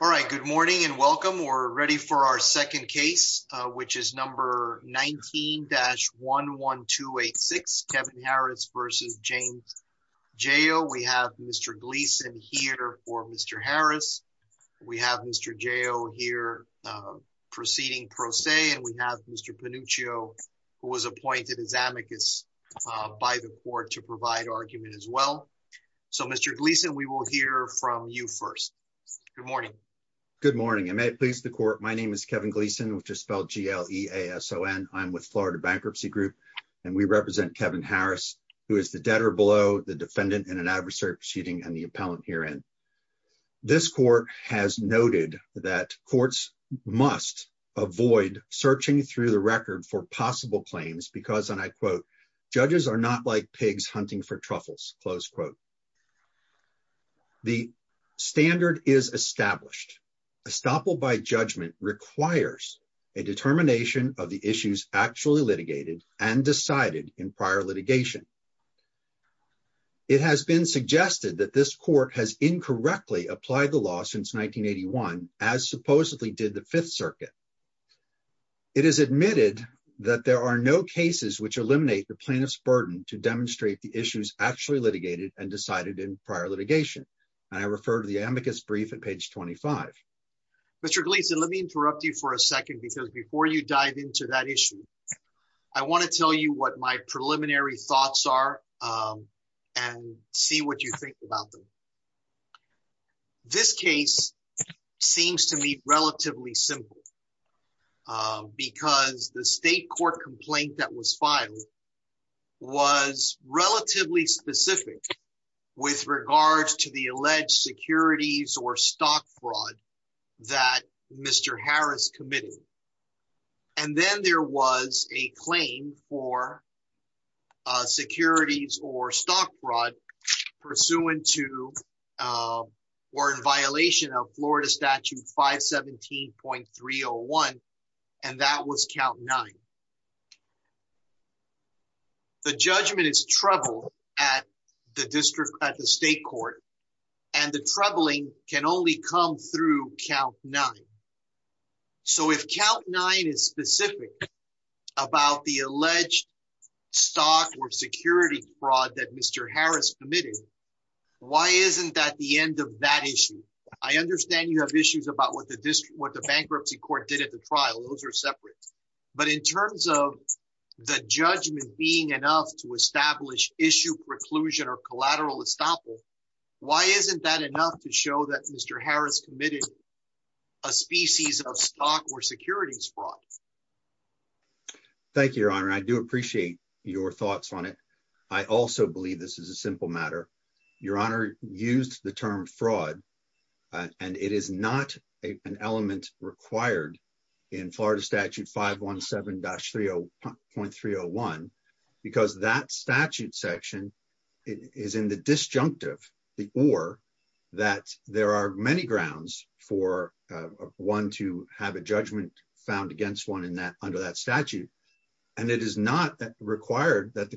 All right, good morning and welcome. We're ready for our second case, which is number 19-11286, Kevin Harris v. James Jayo. We have Mr. Gleason here for Mr. Harris. We have Mr. Jayo here proceeding pro se, and we have Mr. Pannuccio, who was appointed as amicus by the court to provide argument as well. So, Mr. Gleason, we will hear from you first. Good morning. Good morning, and may it please the court. My name is Kevin Gleason, which is spelled G-L-E-A-S-O-N. I'm with Florida Bankruptcy Group, and we represent Kevin Harris, who is the debtor below the defendant in an adversary proceeding and the appellant herein. This court has noted that courts must avoid searching through the record for possible claims because, and I like pigs hunting for truffles, close quote. The standard is established. Estoppel by judgment requires a determination of the issues actually litigated and decided in prior litigation. It has been suggested that this court has incorrectly applied the law since 1981, as supposedly did the Fifth Circuit. It is admitted that there are no cases which eliminate the plaintiff's burden to demonstrate the issues actually litigated and decided in prior litigation, and I refer to the amicus brief at page 25. Mr. Gleason, let me interrupt you for a second, because before you dive into that issue, I want to tell you what my preliminary thoughts are and see what you think about them. This case seems to me relatively simple, because the state court complaint that was filed was relatively specific with regards to the alleged securities or stock fraud that Mr. Harris committed, and then there was a claim for securities or stock fraud pursuant to, or in violation of Florida Statute 517.301, and that was count nine. The judgment is troubled at the district, at the state court, and the troubling can only come through count nine. So if count nine is specific about the alleged stock or security fraud that Mr. Harris committed, why isn't that the end of that issue? I understand you have issues about what the bankruptcy court did at the trial. Those are separate, but in terms of the judgment being enough to establish issue preclusion or collateral estoppel, why isn't that enough to show that Mr. Harris committed a species of stock or securities fraud? Thank you, Your Honor. I do appreciate your thoughts on it. I also believe this is a simple matter. Your Honor used the term fraud, and it is not an element required in Florida Statute 517.301, because that statute section is in the disjunctive, the or, that there are many grounds for one to have a judgment found against one under that statute, and it is not required that the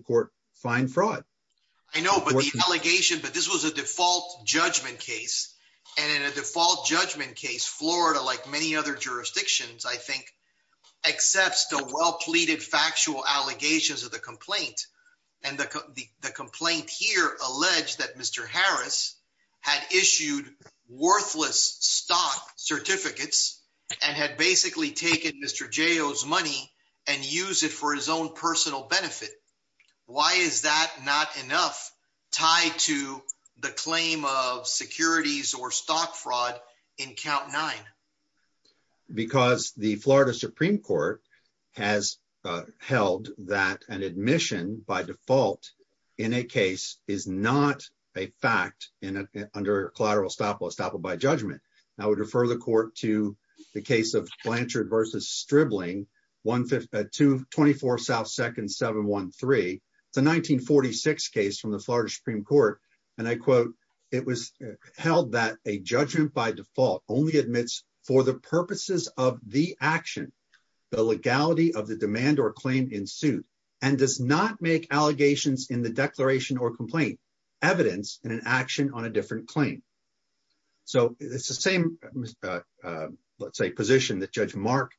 a default judgment case, and in a default judgment case, Florida, like many other jurisdictions, I think, accepts the well-pleaded factual allegations of the complaint, and the complaint here alleged that Mr. Harris had issued worthless stock certificates and had basically taken Mr. Joe's the claim of securities or stock fraud in count nine. Because the Florida Supreme Court has held that an admission by default in a case is not a fact under collateral estoppel, estoppel by judgment. I would refer the court to the case of Blanchard v. Stribling, 224 South 2nd 713. It's a 1946 case from the Florida Supreme Court, and I quote, it was held that a judgment by default only admits for the purposes of the action, the legality of the demand or claim in suit, and does not make allegations in the declaration or complaint evidence in an action on a different claim. So it's the same, let's say, position that Judge Mark,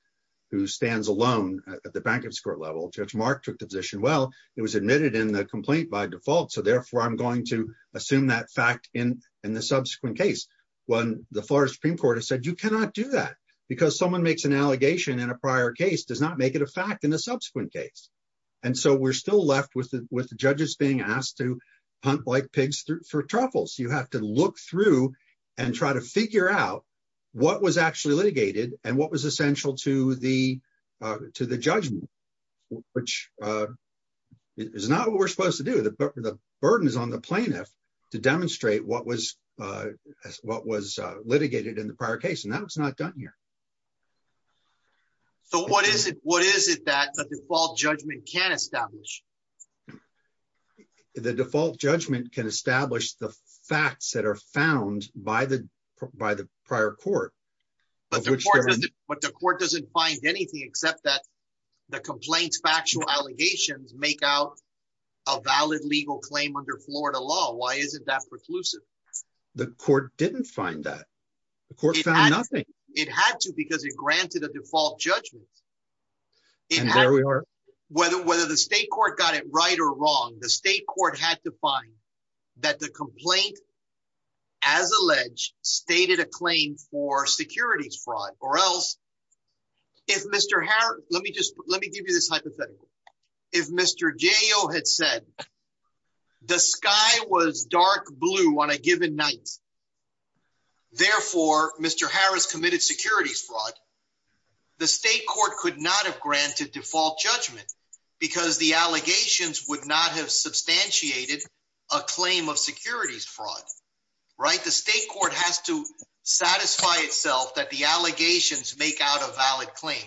who stands alone at the bankers' court level, Judge Mark took the position, well, it was admitted in the complaint by default, so therefore I'm going to assume that fact in the subsequent case, when the Florida Supreme Court has said you cannot do that, because someone makes an allegation in a prior case does not make it a fact in the subsequent case. And so we're still left with the judges being asked to hunt like pigs for truffles. You have to look through and try to figure out what was actually litigated and what was essential to the judgment, which is not what we're supposed to do. The burden is on the plaintiff to demonstrate what was litigated in the prior case, and that was not done here. So what is it that the default judgment can establish? The default judgment can establish the facts that are found by the prior court. But the court doesn't find anything except that the complaint's factual allegations make out a valid legal claim under Florida law. Why isn't that preclusive? The court didn't find that. The court found nothing. It had to, because it granted a default judgment. And there we are. Whether the state court got it right or wrong, the state court had to find that the complaint, as alleged, stated a claim for securities fraud, or else, if Mr. Harris, let me just, let me give you this hypothetical. If Mr. Jayo had said the sky was dark blue on a given night, therefore, Mr. Harris committed securities fraud, the state court could not have granted default judgment because the allegations would not have substantiated a claim of securities fraud, right? The state court has to satisfy itself that the allegations make out a valid claim.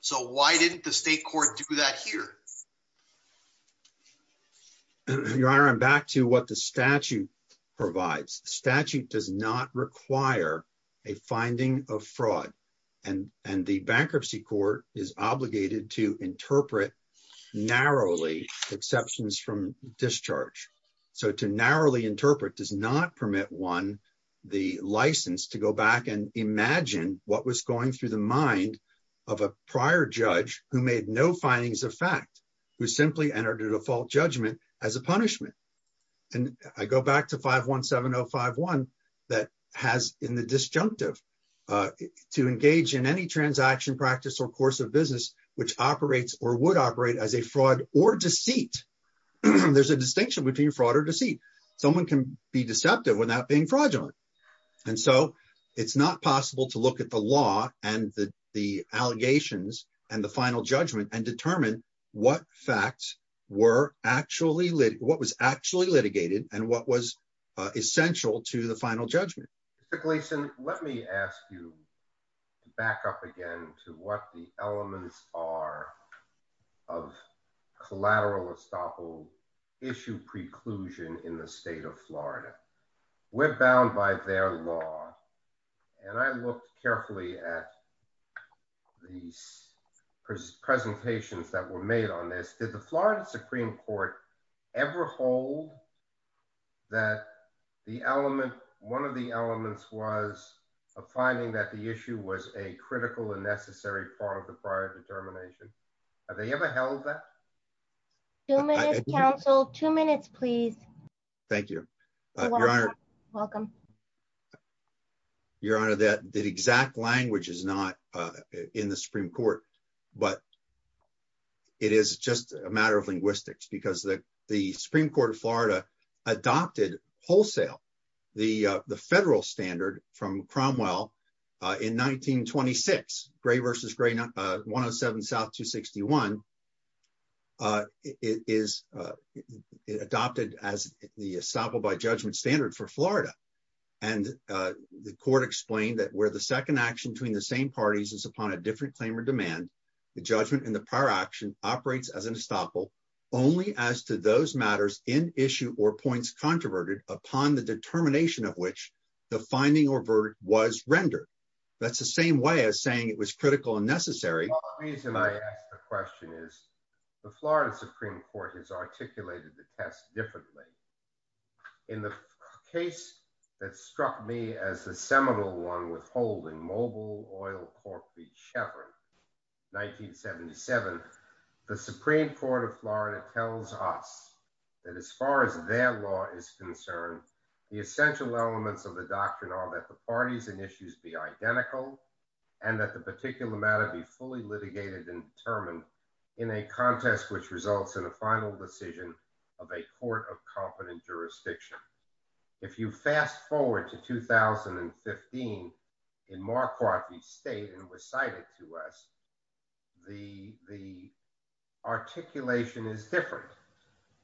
So why didn't the state court do that here? Your Honor, I'm back to what the statute provides. The statute does not require a finding of fraud. And the bankruptcy court is obligated to interpret narrowly exceptions from discharge. So to narrowly interpret does not permit one the license to go back and imagine what was going through the mind of a prior judge who made no findings of fact, who simply entered a default judgment as a punishment. And I go back to 517051 that has in the disjunctive to engage in any transaction practice or course of business, which operates or would operate as a fraud or deceit. There's a distinction between fraud or deceit. Someone can be deceptive without being fraudulent. And so it's not possible to look at the law and the allegations and the final judgment and determine what facts were actually lit, what was actually litigated and what was essential to the final judgment. Mr. Gleason, let me ask you to back up again to what the elements are of collateral estoppel issue preclusion in the state of Florida. We're bound by their law. And I looked carefully at these presentations that were made on this, did the Florida Supreme Court ever hold that the element, one of the elements was a finding that the issue was a critical and necessary part of the prior determination. Have they ever held that council two minutes, please. Thank you, Your Honor. Welcome. Your Honor, that exact language is not in the Supreme Court, but it is just a matter of linguistics because the Supreme Court of Florida adopted wholesale the federal standard from the estoppel by judgment standard for Florida. And the court explained that where the second action between the same parties is upon a different claim or demand, the judgment in the prior action operates as an estoppel only as to those matters in issue or points controverted upon the determination of which the finding or verdict was rendered. That's the same way as saying it was critical and necessary. The reason I ask the question is the Florida Supreme Court has articulated the test differently. In the case that struck me as the seminal one withholding mobile oil cork, the Chevron 1977, the Supreme Court of Florida tells us that as far as their law is concerned, the essential elements of the doctrine are that the parties and issues be identical and that the particular matter be fully litigated and determined in a contest, which results in a final decision of a court of competent jurisdiction. If you fast forward to 2015 in Marquardt, the state and recited to us, the articulation is different.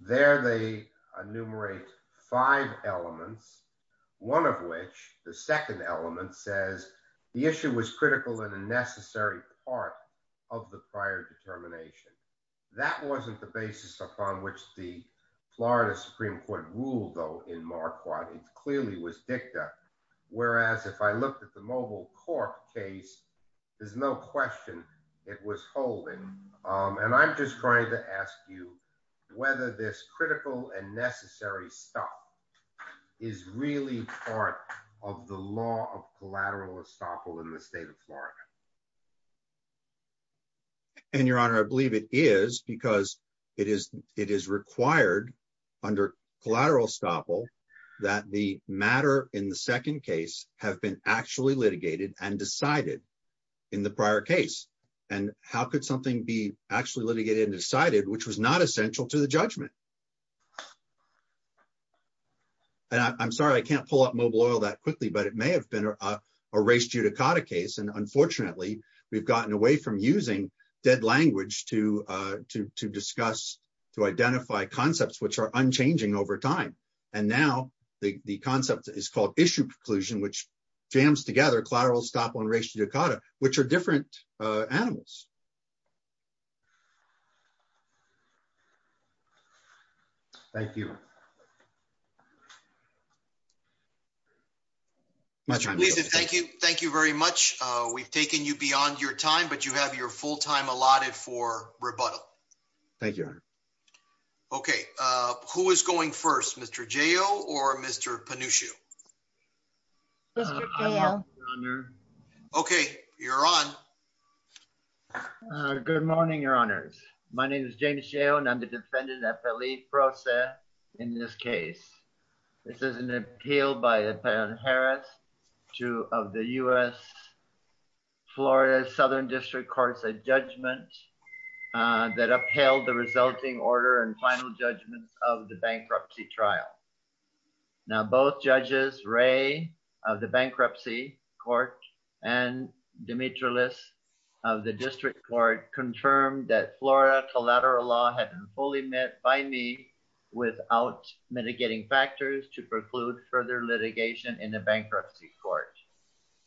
There they enumerate five elements, one of which the second element says the issue was critical in a necessary part of the prior determination. That wasn't the basis upon which the Florida Supreme Court ruled though in Marquardt. It clearly was dicta. Whereas if I looked at the mobile cork case, there's no question it was holding. And I'm just trying to ask you whether this critical and necessary stuff is really part of the law of collateral estoppel in the state of Florida. And your honor, I believe it is because it is required under collateral estoppel that the matter in the second case have been actually litigated and decided in the prior case. And how could something be actually litigated and decided, which was not essential to the judgment? And I'm sorry, I can't pull up mobile oil that quickly, but it may have been a race judicata case. And unfortunately, we've gotten away from using dead language to discuss, to identify concepts which are unchanging over time. And now the concept is called issue preclusion, which jams together collateral estoppel and race judicata, which are different animals. Thank you. Thank you very much. We've taken you beyond your time, but you have your full time allotted for rebuttal. Thank you. Okay. Who is going first, Mr. J.O. or Mr. Panushu? Mr. J.O. Okay, you're on. Good morning, your honors. My name is James J.O. and I'm the defendant at the lead process in this case. This is an appeal by a Pan Harris, two of the U.S. Florida Southern District Courts, a judgment that upheld the resulting order and final judgments of the bankruptcy trial. Now, both judges, Ray of the bankruptcy court and Demetrius of the district court confirmed that Florida collateral law had been fully met by me without mitigating factors to preclude further litigation in the bankruptcy court.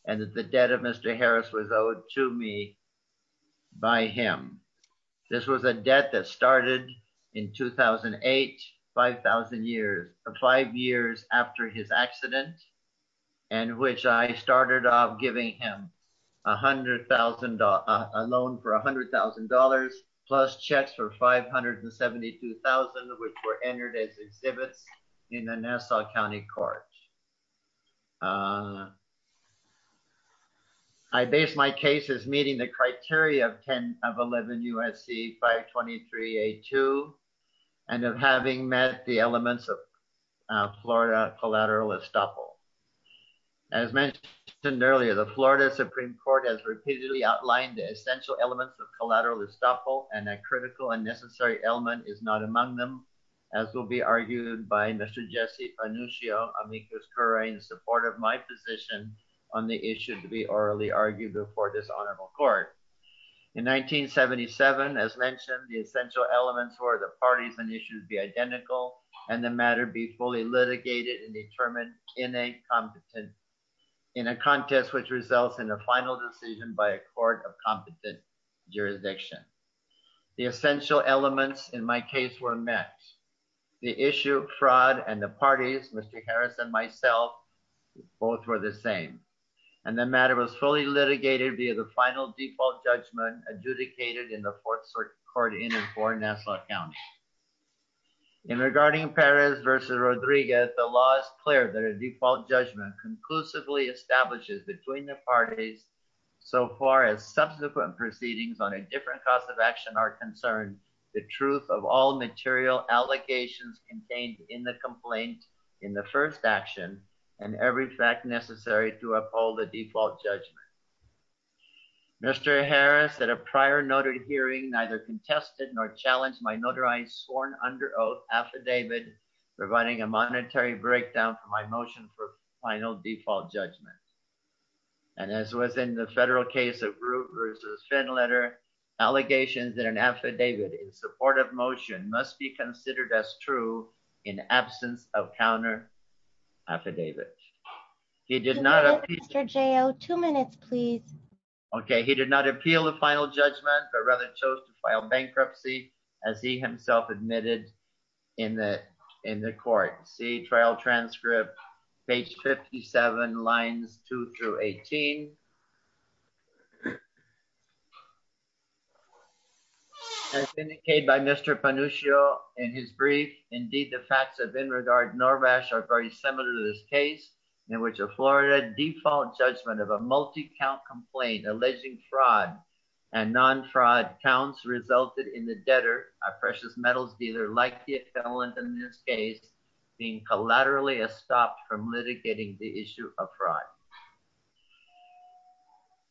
And that the debt of Mr. Harris was owed to me by him. This was a debt that started in 2008, 5,000 years, five years after his accident, and which I started off giving him $100,000, a loan for $100,000 plus checks for $572,000, which were entered as exhibits in the Nassau County Court. I base my case is meeting the criteria of 10 of 11 USC 523A2 and of having met the elements of Florida collateral estoppel. As mentioned earlier, the Florida Supreme Court has repeatedly outlined the essential elements of collateral estoppel and that critical and necessary element is not in support of my position on the issue to be orally argued before this honorable court. In 1977, as mentioned, the essential elements were the parties and issues be identical and the matter be fully litigated and determined in a competent, in a contest which results in a final decision by a court of competent jurisdiction. The essential elements in my self, both were the same and the matter was fully litigated via the final default judgment adjudicated in the fourth court in and for Nassau County. In regarding Perez versus Rodriguez, the law is clear that a default judgment conclusively establishes between the parties so far as subsequent proceedings on a different cause of action are concerned, the truth of all material allegations contained in the complaint in the first action and every fact necessary to uphold the default judgment. Mr. Harris, that a prior noted hearing, neither contested nor challenged my notarized sworn under oath affidavit, providing a monetary breakdown for my motion for final default judgment. And as it was in the federal case of root versus fin letter, allegations that an affidavit in support of motion must be considered as true in absence of counter affidavit. He did not. Two minutes, please. Okay. He did not appeal the final judgment, but rather chose to file bankruptcy as he himself admitted in the court. See trial transcript page 57 lines two through 18. As indicated by Mr. Panuccio in his brief, indeed, the facts of in regard Norvash are very similar to this case in which a Florida default judgment of a multi count complaint alleging fraud and non-fraud counts resulted in the debtor, a precious metals dealer, like the accountant in this case, being collaterally stopped from litigating the issue of fraud.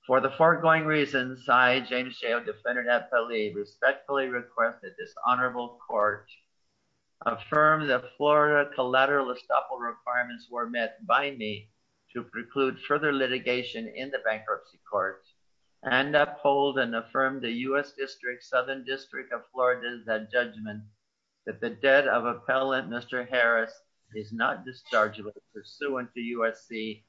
For the foregoing reasons, I, James Shao, defendant at Pele, respectfully request that this honorable court affirm the Florida collateral estoppel requirements were met by me to preclude further litigation in the bankruptcy court and uphold and affirm the U.S. District Southern District of Florida's judgment that the debt of appellant Mr. Harris is not dischargeable pursuant to USC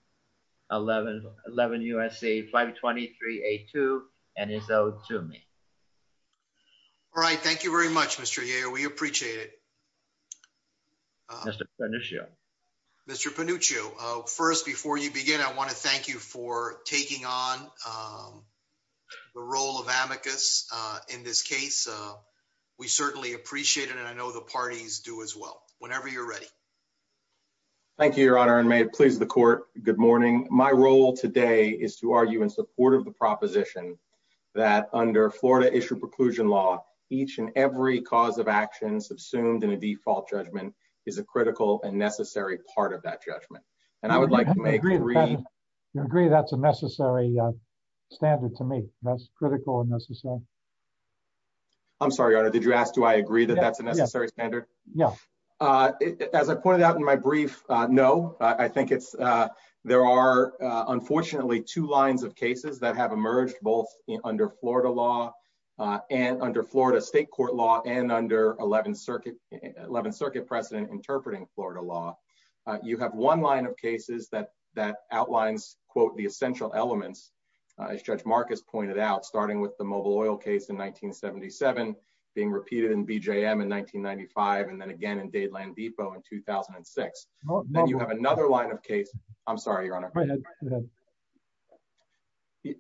1111 USC 523 A2 and is owed to me. All right. Thank you very much, Mr. We appreciate it. Mr. Mr Panuccio. First, before you begin, I want to thank you for taking on the role of amicus in this case. We certainly appreciate it. And I know the parties do as well whenever you're ready. Thank you, Your Honor. And may it please the court. Good morning. My role today is to argue in support of the proposition that under Florida issued preclusion law, each and every cause of actions assumed in a default judgment is a critical and necessary part of that judgment. And I would like to make you agree that's a necessary standard to me. That's critical and necessary. I'm sorry, Your Honor. Did you ask? Do I agree that that's a necessary standard? Yeah. As I pointed out in my brief, no, I think it's there are unfortunately two lines of cases that have emerged both under Florida law and under Florida state court law and under 11th Circuit 11th Circuit precedent interpreting Florida law. You have one line of cases that that outlines, quote, the essential elements, as Judge Marcus pointed out, starting with the mobile oil case in 1977, being repeated in BJM in 1995. And then again, in Dade Land Depot in 2006. Then you have another line of case. I'm sorry, Your Honor.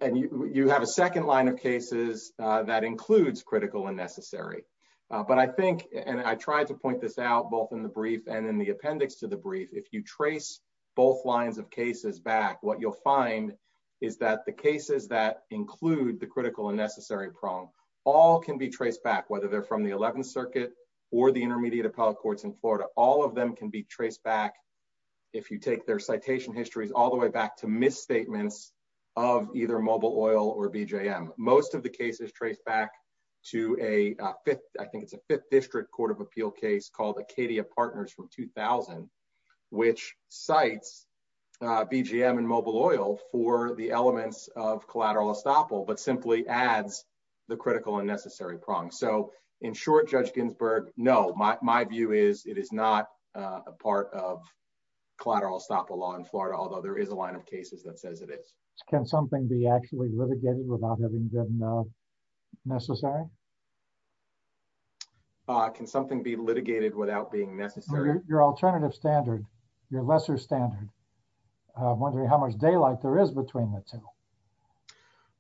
And you have a second line of cases that includes critical and necessary. But I think and I tried to point this out both in the brief and in the appendix to the brief. If you trace both lines of cases back, what you'll find is that the cases that include the critical and necessary prong all can be traced back, whether they're from the 11th Circuit or the intermediate appellate courts in Florida. All of them can be traced back if you take their mobile oil or BJM. Most of the cases trace back to a fifth. I think it's a fifth district court of appeal case called Acadia Partners from 2000, which cites BGM and mobile oil for the elements of collateral estoppel, but simply adds the critical and necessary prong. So in short, Judge Ginsburg, no, my view is it is not a part of collateral estoppel law in Florida, although there is a line of cases that says it is. Can something be actually litigated without having been necessary? Can something be litigated without being necessary? Your alternative standard, your lesser standard. I'm wondering how much daylight there is between the two.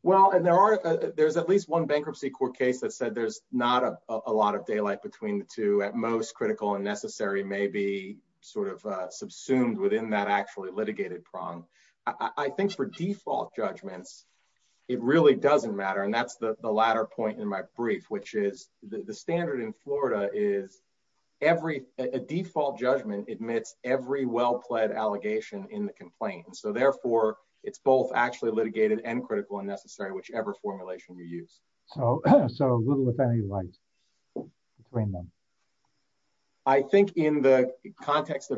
Well, and there are there's at least one bankruptcy court case that said there's not a lot of daylight between the two at most critical and necessary may be subsumed within that actually litigated prong. I think for default judgments, it really doesn't matter. And that's the latter point in my brief, which is the standard in Florida is every default judgment admits every well-plaid allegation in the complaint. And so therefore, it's both actually litigated and critical and necessary, whichever formulation you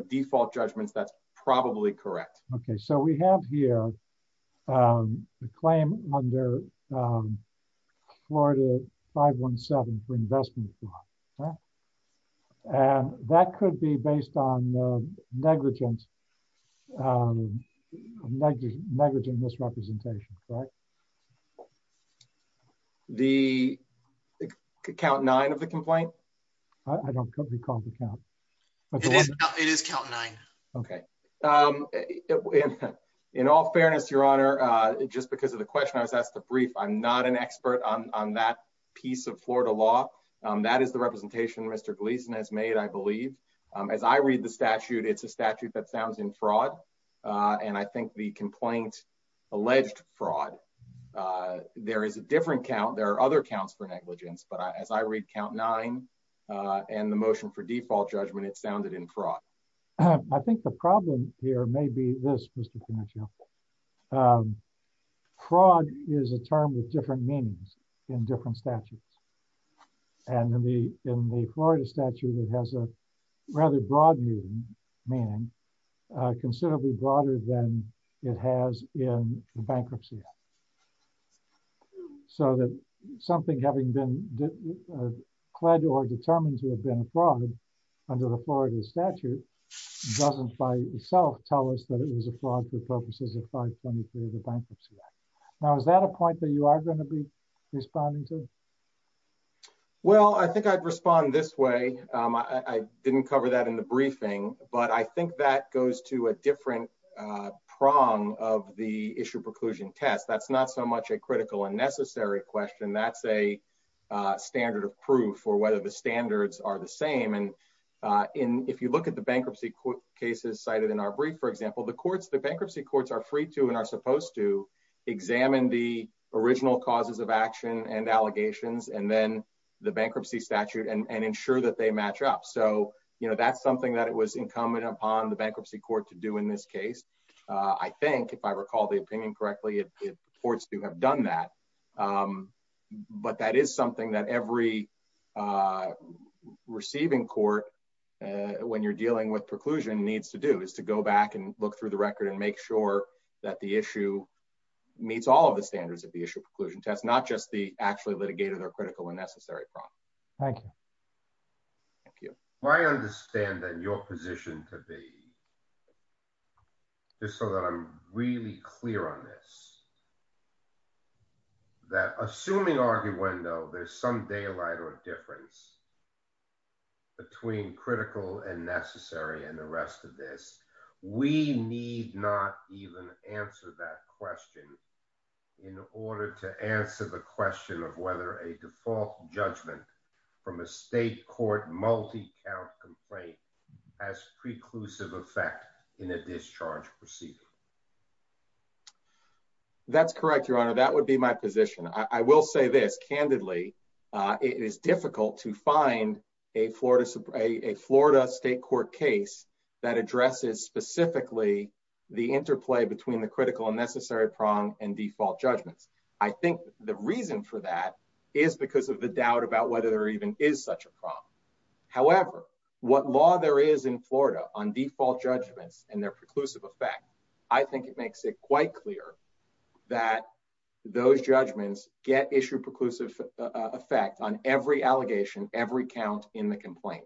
default judgments, that's probably correct. Okay, so we have here the claim under Florida 517 for investment fraud. And that could be based on negligence, negligent misrepresentation, correct? The count nine of the complaint? I don't recall the count. It is count nine. Okay. In all fairness, Your Honor, just because of the question I was asked to brief, I'm not an expert on that piece of Florida law. That is the representation Mr. Gleason has made, I believe, as I read the statute, it's a statute that sounds in fraud. And I think the complaint, alleged fraud, there is a different count. There are other counts for negligence. But as I read count nine, and the motion for default judgment, it sounded in fraud. I think the problem here may be this, Mr. Pinocchio. Fraud is a term with different meanings in different statutes. And in the in the Florida statute, it has a rather broad meaning, meaning considerably broader than it has in bankruptcy. Yeah. So that something having been clad or determined to have been a fraud under the Florida statute, doesn't by itself tell us that it was a fraud for purposes of 523 of the Bankruptcy Act. Now, is that a point that you are going to be responding to? Well, I think I'd respond this way. I didn't cover that in the briefing. But I think that that's not so much a critical and necessary question. That's a standard of proof for whether the standards are the same. And in if you look at the bankruptcy cases cited in our brief, for example, the courts, the bankruptcy courts are free to and are supposed to examine the original causes of action and allegations and then the bankruptcy statute and ensure that they match up. So, you know, that's something that it was incumbent upon the bankruptcy court to do in this case. I think if I recall the opinion correctly, it reports to have done that. But that is something that every receiving court when you're dealing with preclusion needs to do is to go back and look through the record and make sure that the issue meets all of the standards of the issue preclusion test, not just the actually litigated or critical and necessary problem. Thank you. Thank you. I understand that your position could be just so that I'm really clear on this. That assuming argument, though, there's some daylight or difference between critical and necessary and the rest of this, we need not even answer that question in order to answer the question of whether a default judgment from a state court multi count complaint as preclusive effect in a discharge procedure. That's correct, Your Honor, that would be my position. I will say this. Candidly, it is difficult to find a Florida, a Florida state court case that addresses specifically the interplay between the critical and necessary prong and default judgments. I think the reason for that is because of the doubt about whether there even is such a problem. However, what law there is in Florida on default judgments and their preclusive effect, I think it makes it quite clear that those judgments get issued preclusive effect on every allegation, every count in the complaint.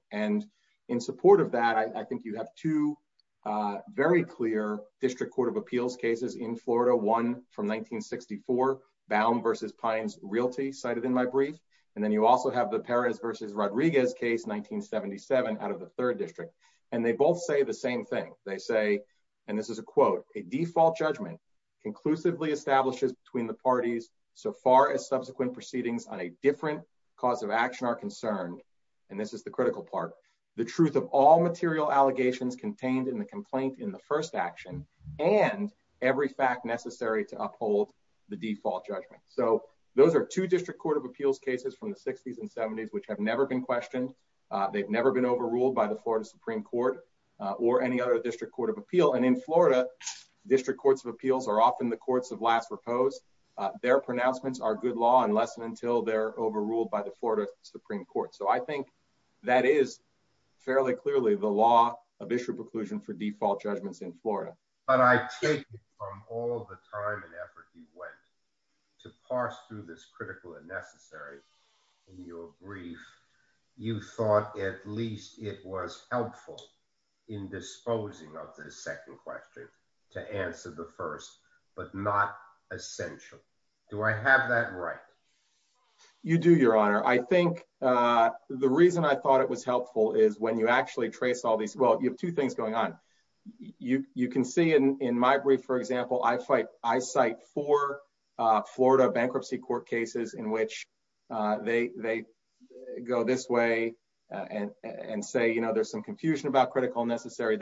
In support of that, I think you have two very clear district court of appeals cases in Florida, one from 1964, Baum versus Pines Realty cited in my brief. Then you also have the Perez versus Rodriguez case, 1977 out of the third district. They both say the same thing. They say, and this is a quote, a default judgment conclusively establishes between the parties so far as subsequent proceedings on a different cause of action are concerned. This is the part, the truth of all material allegations contained in the complaint in the first action and every fact necessary to uphold the default judgment. So those are two district court of appeals cases from the sixties and seventies, which have never been questioned. They've never been overruled by the Florida Supreme court or any other district court of appeal. And in Florida, district courts of appeals are often the courts of last repose. Their pronouncements are good unless and until they're overruled by the Florida Supreme court. So I think that is fairly clearly the law of issue preclusion for default judgments in Florida. But I take it from all the time and effort you went to parse through this critical and necessary in your brief, you thought at least it was helpful in disposing of the second question to answer the first, but not essential. Do I have that right? You do your honor. I think the reason I thought it was helpful is when you actually trace all these, well, you have two things going on. You can see in my brief, for example, I fight, I cite four Florida bankruptcy court cases in which they go this way and say, you know, there's some a critical and necessary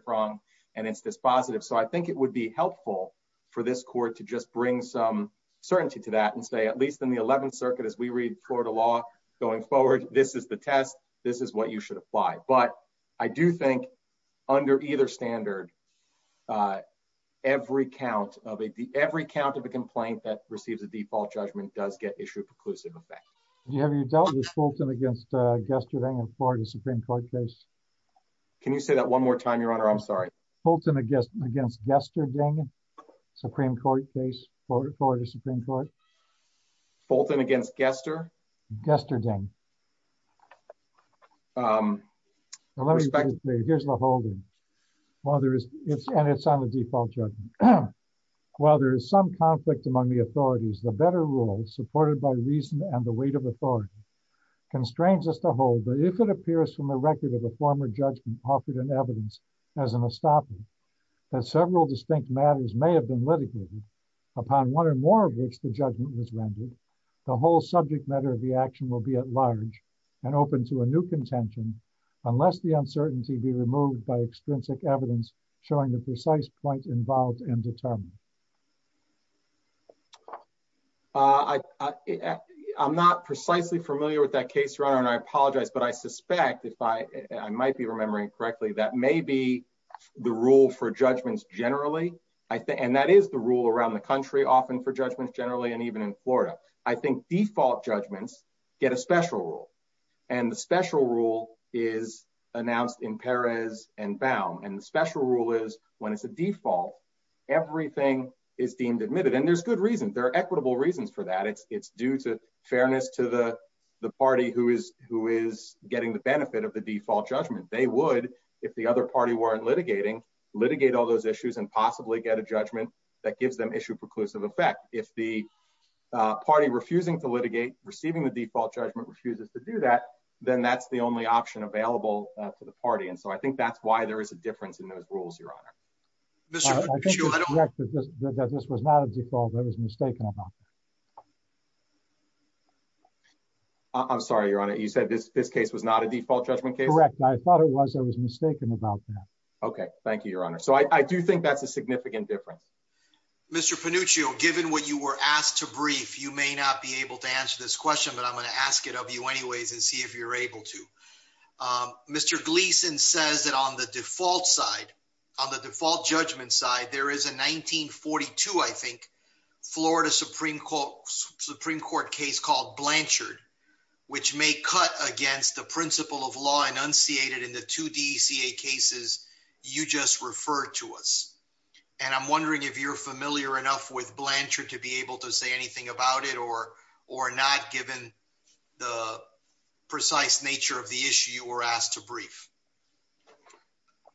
prong and it's dispositive. So I think it would be helpful for this court to just bring some certainty to that and say, at least in the 11th circuit, as we read Florida law going forward, this is the test. This is what you should apply. But I do think under either standard every count of a D every count of a complaint that receives a default judgment does get issued preclusive effect. Have you dealt with Fulton against Gesterding in Florida Supreme court case? Can you say that one more time? Your honor? I'm sorry. Fulton against against Gesterding Supreme court case for the Supreme court. Fulton against Gester? Gesterding. Here's the whole thing. Well, there is it's and it's on the default judgment. While there is some conflict among the authorities, the better rules supported by reason and the weight of authority constrains us to hold that if it appears from the record of a former judgment offered in evidence as an estoppel that several distinct matters may have been litigated upon one or more of which the judgment was rendered, the whole subject matter of the action will be at large and open to a new contention unless the uncertainty be removed by I'm not precisely familiar with that case, your honor. And I apologize. But I suspect if I might be remembering correctly, that may be the rule for judgments generally. And that is the rule around the country often for judgments generally. And even in Florida, I think default judgments get a special rule. And the special rule is announced in Perez and Baum. And the special rule is when it's a default, everything is deemed admitted. And there's good reason. There are equitable reasons for that. It's it's due to fairness to the party who is who is getting the benefit of the default judgment, they would, if the other party weren't litigating, litigate all those issues and possibly get a judgment that gives them issue preclusive effect. If the party refusing to litigate receiving the default judgment refuses to do that, then that's the only option available to the party. And so I think that's why there is a difference in those rules, your honor. This was not a default that was mistaken about. I'm sorry, your honor, you said this, this case was not a default judgment case, correct? I thought it was I was mistaken about that. Okay, thank you, your honor. So I do think that's a significant difference. Mr. Panuccio, given what you were asked to brief, you may not be able to answer this question, but I'm going to ask it of you anyways, and see if you're able to. Mr. Gleason says that on the default side, on the default judgment side, there is a 1942, I think, Florida Supreme Court case called Blanchard, which may cut against the principle of law enunciated in the two DECA cases you just referred to us. And I'm wondering if you're familiar enough with Blanchard to be able to say anything about it or not given the precise nature of the issue you were asked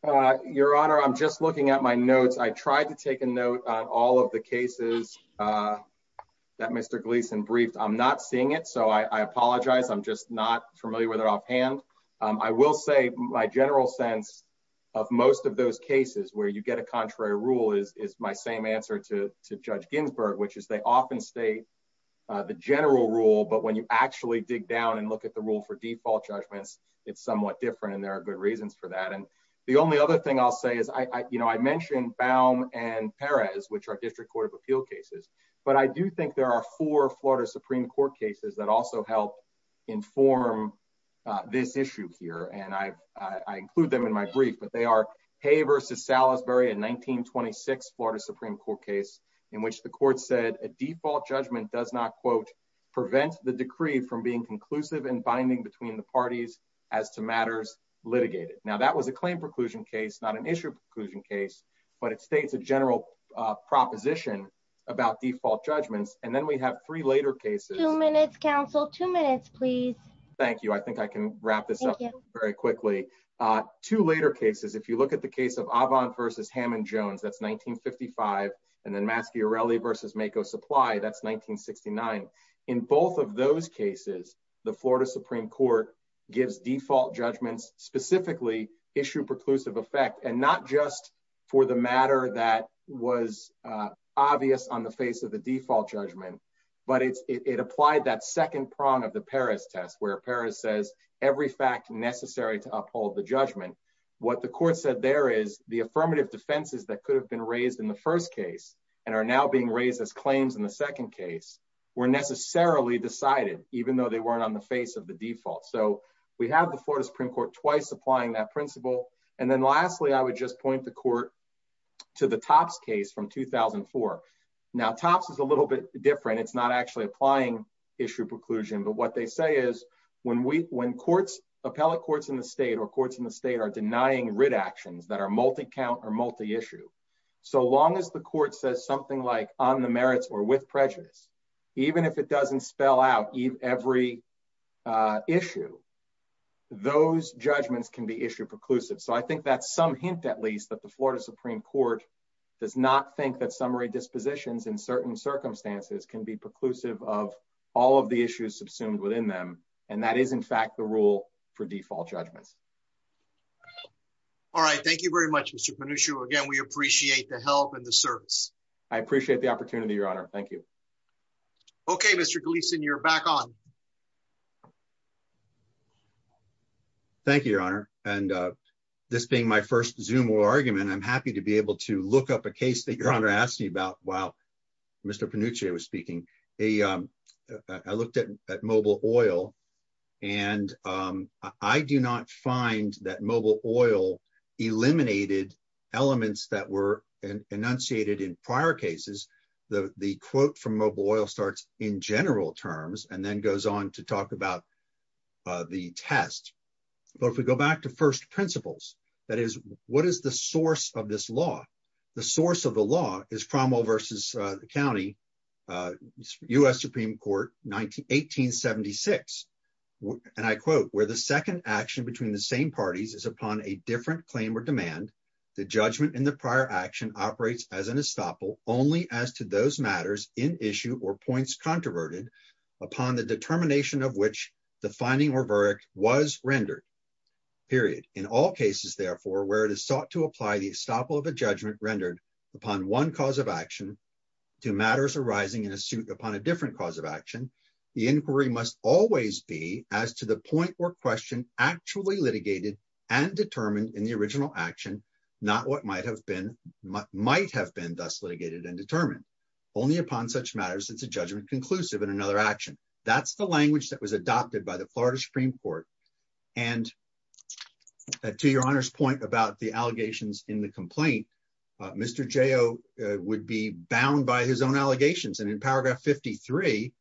to Your honor, I'm just looking at my notes. I tried to take a note on all of the cases that Mr. Gleason briefed. I'm not seeing it, so I apologize. I'm just not familiar with it offhand. I will say my general sense of most of those cases where you get a contrary rule is my same answer to Judge Ginsburg, which is they often state the general rule, but when you actually dig down and look at the rule for default judgments, it's somewhat different. And there are good for that. And the only other thing I'll say is I mentioned Baum and Perez, which are District Court of Appeal cases, but I do think there are four Florida Supreme Court cases that also help inform this issue here. And I include them in my brief, but they are Hay versus Salisbury in 1926 Florida Supreme Court case in which the court said a default judgment does not, quote, from being conclusive and binding between the parties as to matters litigated. Now that was a claim preclusion case, not an issue preclusion case, but it states a general proposition about default judgments. And then we have three later cases. Two minutes, counsel. Two minutes, please. Thank you. I think I can wrap this up very quickly. Two later cases. If you look at the case of Avon versus Hammond Jones, that's 1955 and then Maschiorelli versus Mako Supply, that's 1969. In both of those cases, the Florida Supreme Court gives default judgments specifically issue preclusive effect and not just for the matter that was obvious on the face of the default judgment, but it applied that second prong of the Perez test where Perez says every fact necessary to uphold the judgment. What the court said there is the affirmative defenses that could have been raised in the first case and are now being raised as claims in the second case were necessarily decided even though they weren't on the face of the default. So we have the Florida Supreme Court twice applying that principle. And then lastly, I would just point the court to the tops case from 2004. Now, tops is a little bit different. It's not actually applying issue preclusion. But what they say is when we when courts appellate courts in the state or courts in the state are denying writ actions that are multi-count or multi-issue, so long as the court says something like on the merits or with prejudice, even if it doesn't spell out every issue, those judgments can be issue preclusive. So I think that's some hint, at least, that the Florida Supreme Court does not think that summary dispositions in certain circumstances can be preclusive of all of the issues subsumed within them. And that is, in fact, the rule for default judgments. All right. Thank you very much, Mr. Pannucci. Again, we appreciate the help and the service. I appreciate the opportunity, Your Honor. Thank you. Okay, Mr. Gleason, you're back on. Thank you, Your Honor. And this being my first zoom or argument, I'm happy to be able to look at mobile oil. And I do not find that mobile oil eliminated elements that were enunciated in prior cases. The quote from mobile oil starts in general terms and then goes on to talk about the test. But if we go back to first principles, that is, what is the source of this law? The source of the law is Cromwell v. County, U.S. Supreme Court, 1876. And I quote, where the second action between the same parties is upon a different claim or demand, the judgment in the prior action operates as an estoppel only as to those matters in issue or points controverted upon the determination of which the finding or verdict was rendered, period. In all cases, therefore, where it is sought to apply the estoppel of a judgment rendered upon one cause of action to matters arising in a suit upon a different cause of action, the inquiry must always be as to the point or question actually litigated and determined in the original action, not what might have been might have been thus litigated and determined. Only upon such matters, it's a judgment conclusive in another action. That's the that to your honor's point about the allegations in the complaint, Mr. Joe would be bound by his own allegations. And in paragraph 53,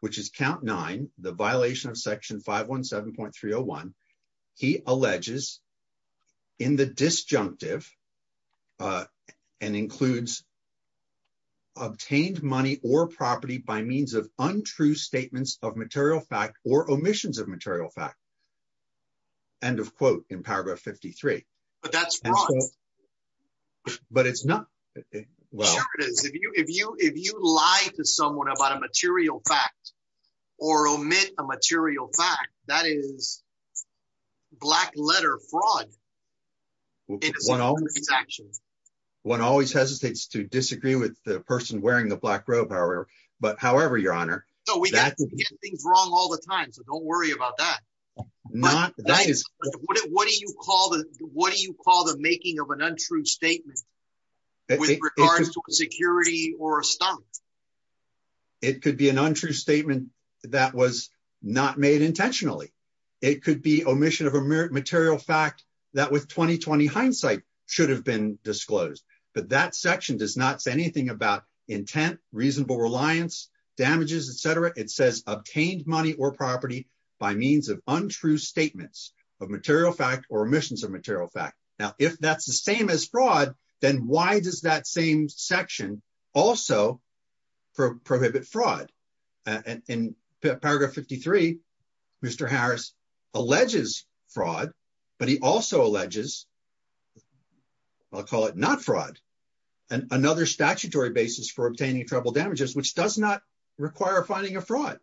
which is count nine, the violation of section 517.301, he alleges in the disjunctive and includes obtained money or property by means of untrue statements of material fact or omissions of material fact. End of quote in paragraph 53. But that's wrong. But it's not. Well, it is if you if you if you lie to someone about a material fact, or omit a material fact that is black letter fraud. One always hesitates to disagree with the person wearing the black robe. However, but however, your honor, so we get things wrong all the time. So don't worry about that. Not that is what do you call the what do you call the making of an untrue statement with regards to security or a stunt? It could be an untrue statement that was not made intentionally. It could be omission of a merit material fact that with 2020 hindsight should have been disclosed. But that section does not say anything about intent, reasonable reliance, damages, etc. It says obtained money or property by means of untrue statements of material fact or omissions of material fact. Now, if that's the same as fraud, then why does that same section also prohibit fraud? And in paragraph 53, Mr. Harris alleges fraud, but he also alleges, I'll call it not fraud, and another statutory basis for obtaining trouble damages, which does not require finding a fraud.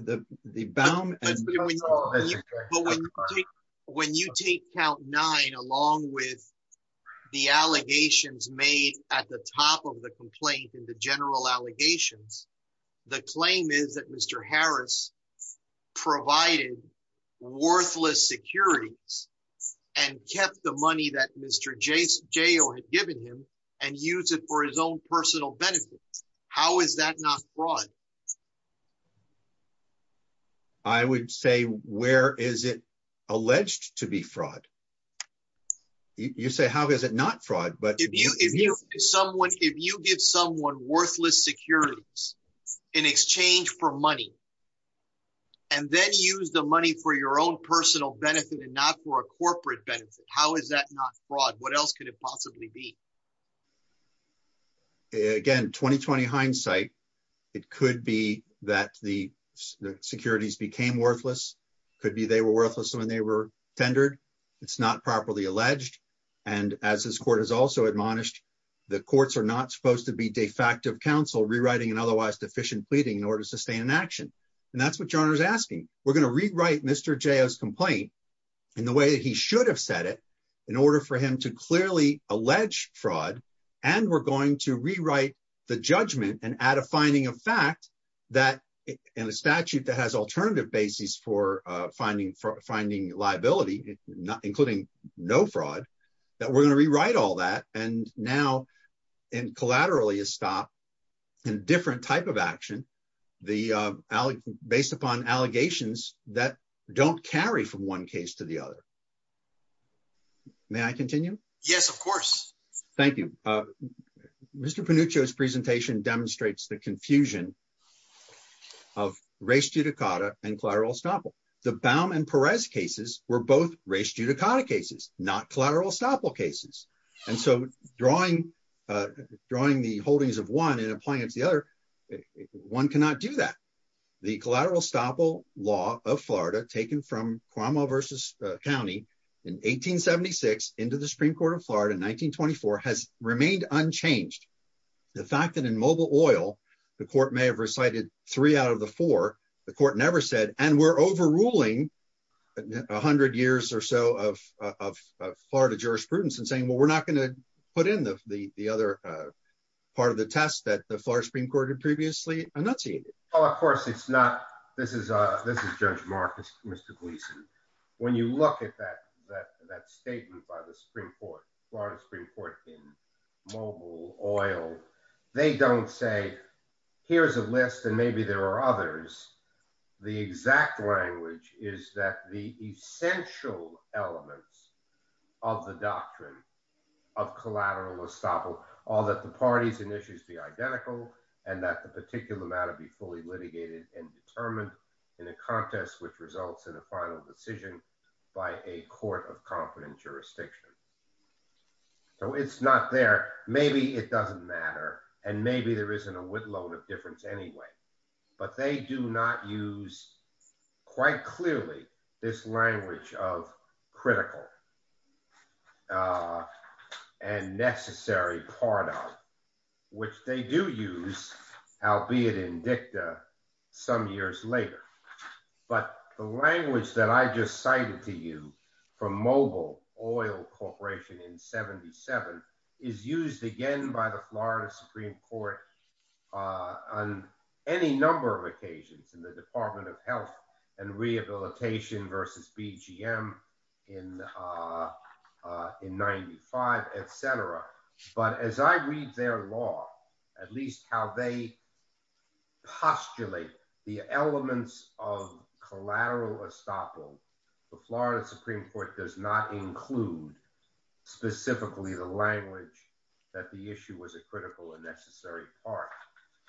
The the bound and when you take count nine, along with the allegations made at the top of the complaint and the general allegations, the claim is that Mr. Harris provided worthless securities and kept the money that Mr. Jace had given him and use it for his own personal benefit. How is that not fraud? I would say where is it alleged to be fraud? You say how is it not fraud? But if you if you someone if you give someone worthless securities in exchange for money and then use the money for your own personal benefit and not for a corporate benefit, how is that not fraud? What else could possibly be? Again, 2020 hindsight, it could be that the securities became worthless, could be they were worthless when they were tendered. It's not properly alleged. And as this court has also admonished, the courts are not supposed to be de facto counsel rewriting and otherwise deficient pleading in order to sustain an action. And that's what John is asking. We're going to rewrite Mr. complaint in the way that he should have said it in order for him to clearly allege fraud. And we're going to rewrite the judgment and add a finding of fact that in a statute that has alternative basis for finding for finding liability, not including no fraud, that we're going to rewrite all that. And now, and collaterally, a stop in different type of action, the based upon allegations that don't carry from one case to the other. May I continue? Yes, of course. Thank you. Mr. Panuccio's presentation demonstrates the confusion of race judicata and collateral estoppel. The Baum and Perez cases were both race judicata cases, not collateral estoppel cases. And so drawing, drawing the holdings of one and applying it to the other, one cannot do that. The collateral estoppel law of Florida taken from Cuomo versus county in 1876 into the Supreme Court of Florida 1924 has remained unchanged. The fact that in mobile oil, the court may have recited three out of the four, the court never said and we're overruling 100 years or so of Florida jurisprudence and saying, well, we're not going to put in the other part of the test that the this is Judge Marcus, Mr. Gleason. When you look at that statement by the Supreme Court, Florida Supreme Court in mobile oil, they don't say, here's a list and maybe there are others. The exact language is that the essential elements of the doctrine of collateral estoppel, all that the parties and issues be identical and that the particular matter be fully litigated and determined in a contest, which results in a final decision by a court of confidence jurisdiction. So it's not there. Maybe it doesn't matter. And maybe there isn't a whipload of difference anyway, but they do not use quite clearly this language of critical and necessary part of which they do use albeit in dicta some years later. But the language that I just cited to you from mobile oil corporation in 77 is used again by the Florida Supreme Court on any number of occasions in the department of health and rehabilitation versus BGM in 95, et cetera. But as I read their law, at least how they postulate the elements of collateral estoppel, the Florida Supreme Court does not include specifically the language that the issue was a critical and necessary part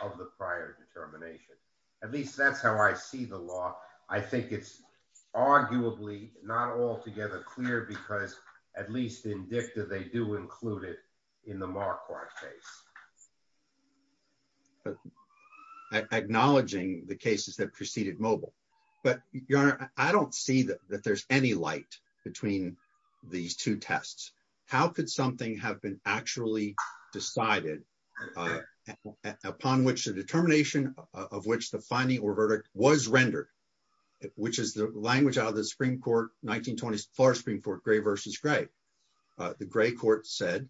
of the prior determination. At least that's how I see the law. I think it's arguably not altogether clear because at least in dicta, they do include it in the Marquardt case. Acknowledging the cases that preceded mobile, but I don't see that there's any light between these two tests. How could something have been actually decided upon which the determination of which the finding or verdict was rendered, which is the language out of the Supreme Court 1920s for spring for gray versus gray. The gray court said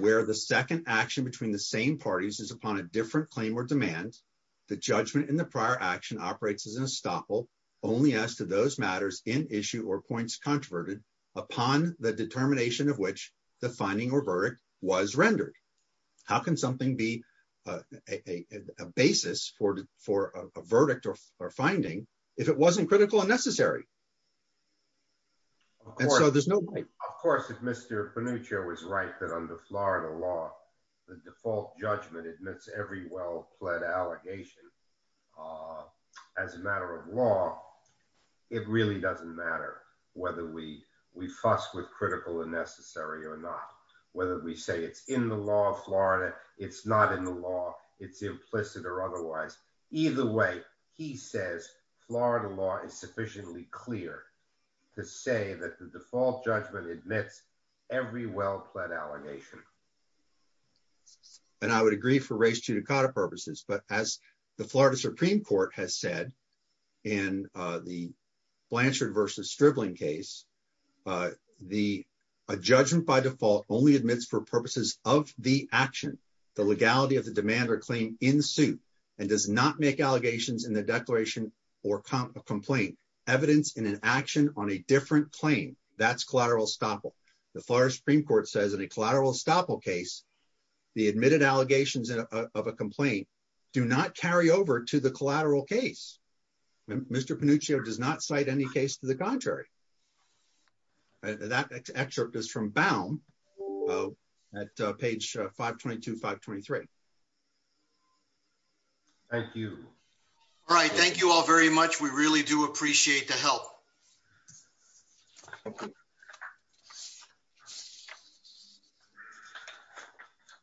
where the second action between the same parties is upon a different claim or demand. The judgment in the prior action operates as an estoppel only as to those matters in issue or points controverted upon the determination of which the finding or verdict was rendered. How can something be a basis for a verdict or finding if it wasn't critical and necessary? And so there's no point. Of course, if Mr. Panuccio was right that under Florida law, the default judgment admits every well pled allegation. As a matter of law, it really doesn't matter whether we fuss with critical and necessary or not. Whether we say it's in the law of Florida, it's not in the law, it's implicit or otherwise. Either way, he says Florida law is sufficiently clear to say that the default judgment admits every well pled allegation. And I would agree for race to Dakota purposes, but as the Florida Supreme Court has said in the Blanchard versus stripling case, a judgment by default only admits for purposes of the action, the legality of the demand or claim in suit and does not make allegations in the declaration or complaint evidence in an action on a different claim. That's collateral estoppel. The Florida Supreme Court says in a collateral estoppel case, the admitted allegations of a complaint do not carry over to the collateral case. Mr. Panuccio does not cite any case to the contrary. That excerpt is from Baum at page 522, 523. Thank you. All right. Thank you all very much. We really do appreciate the help. Thank you.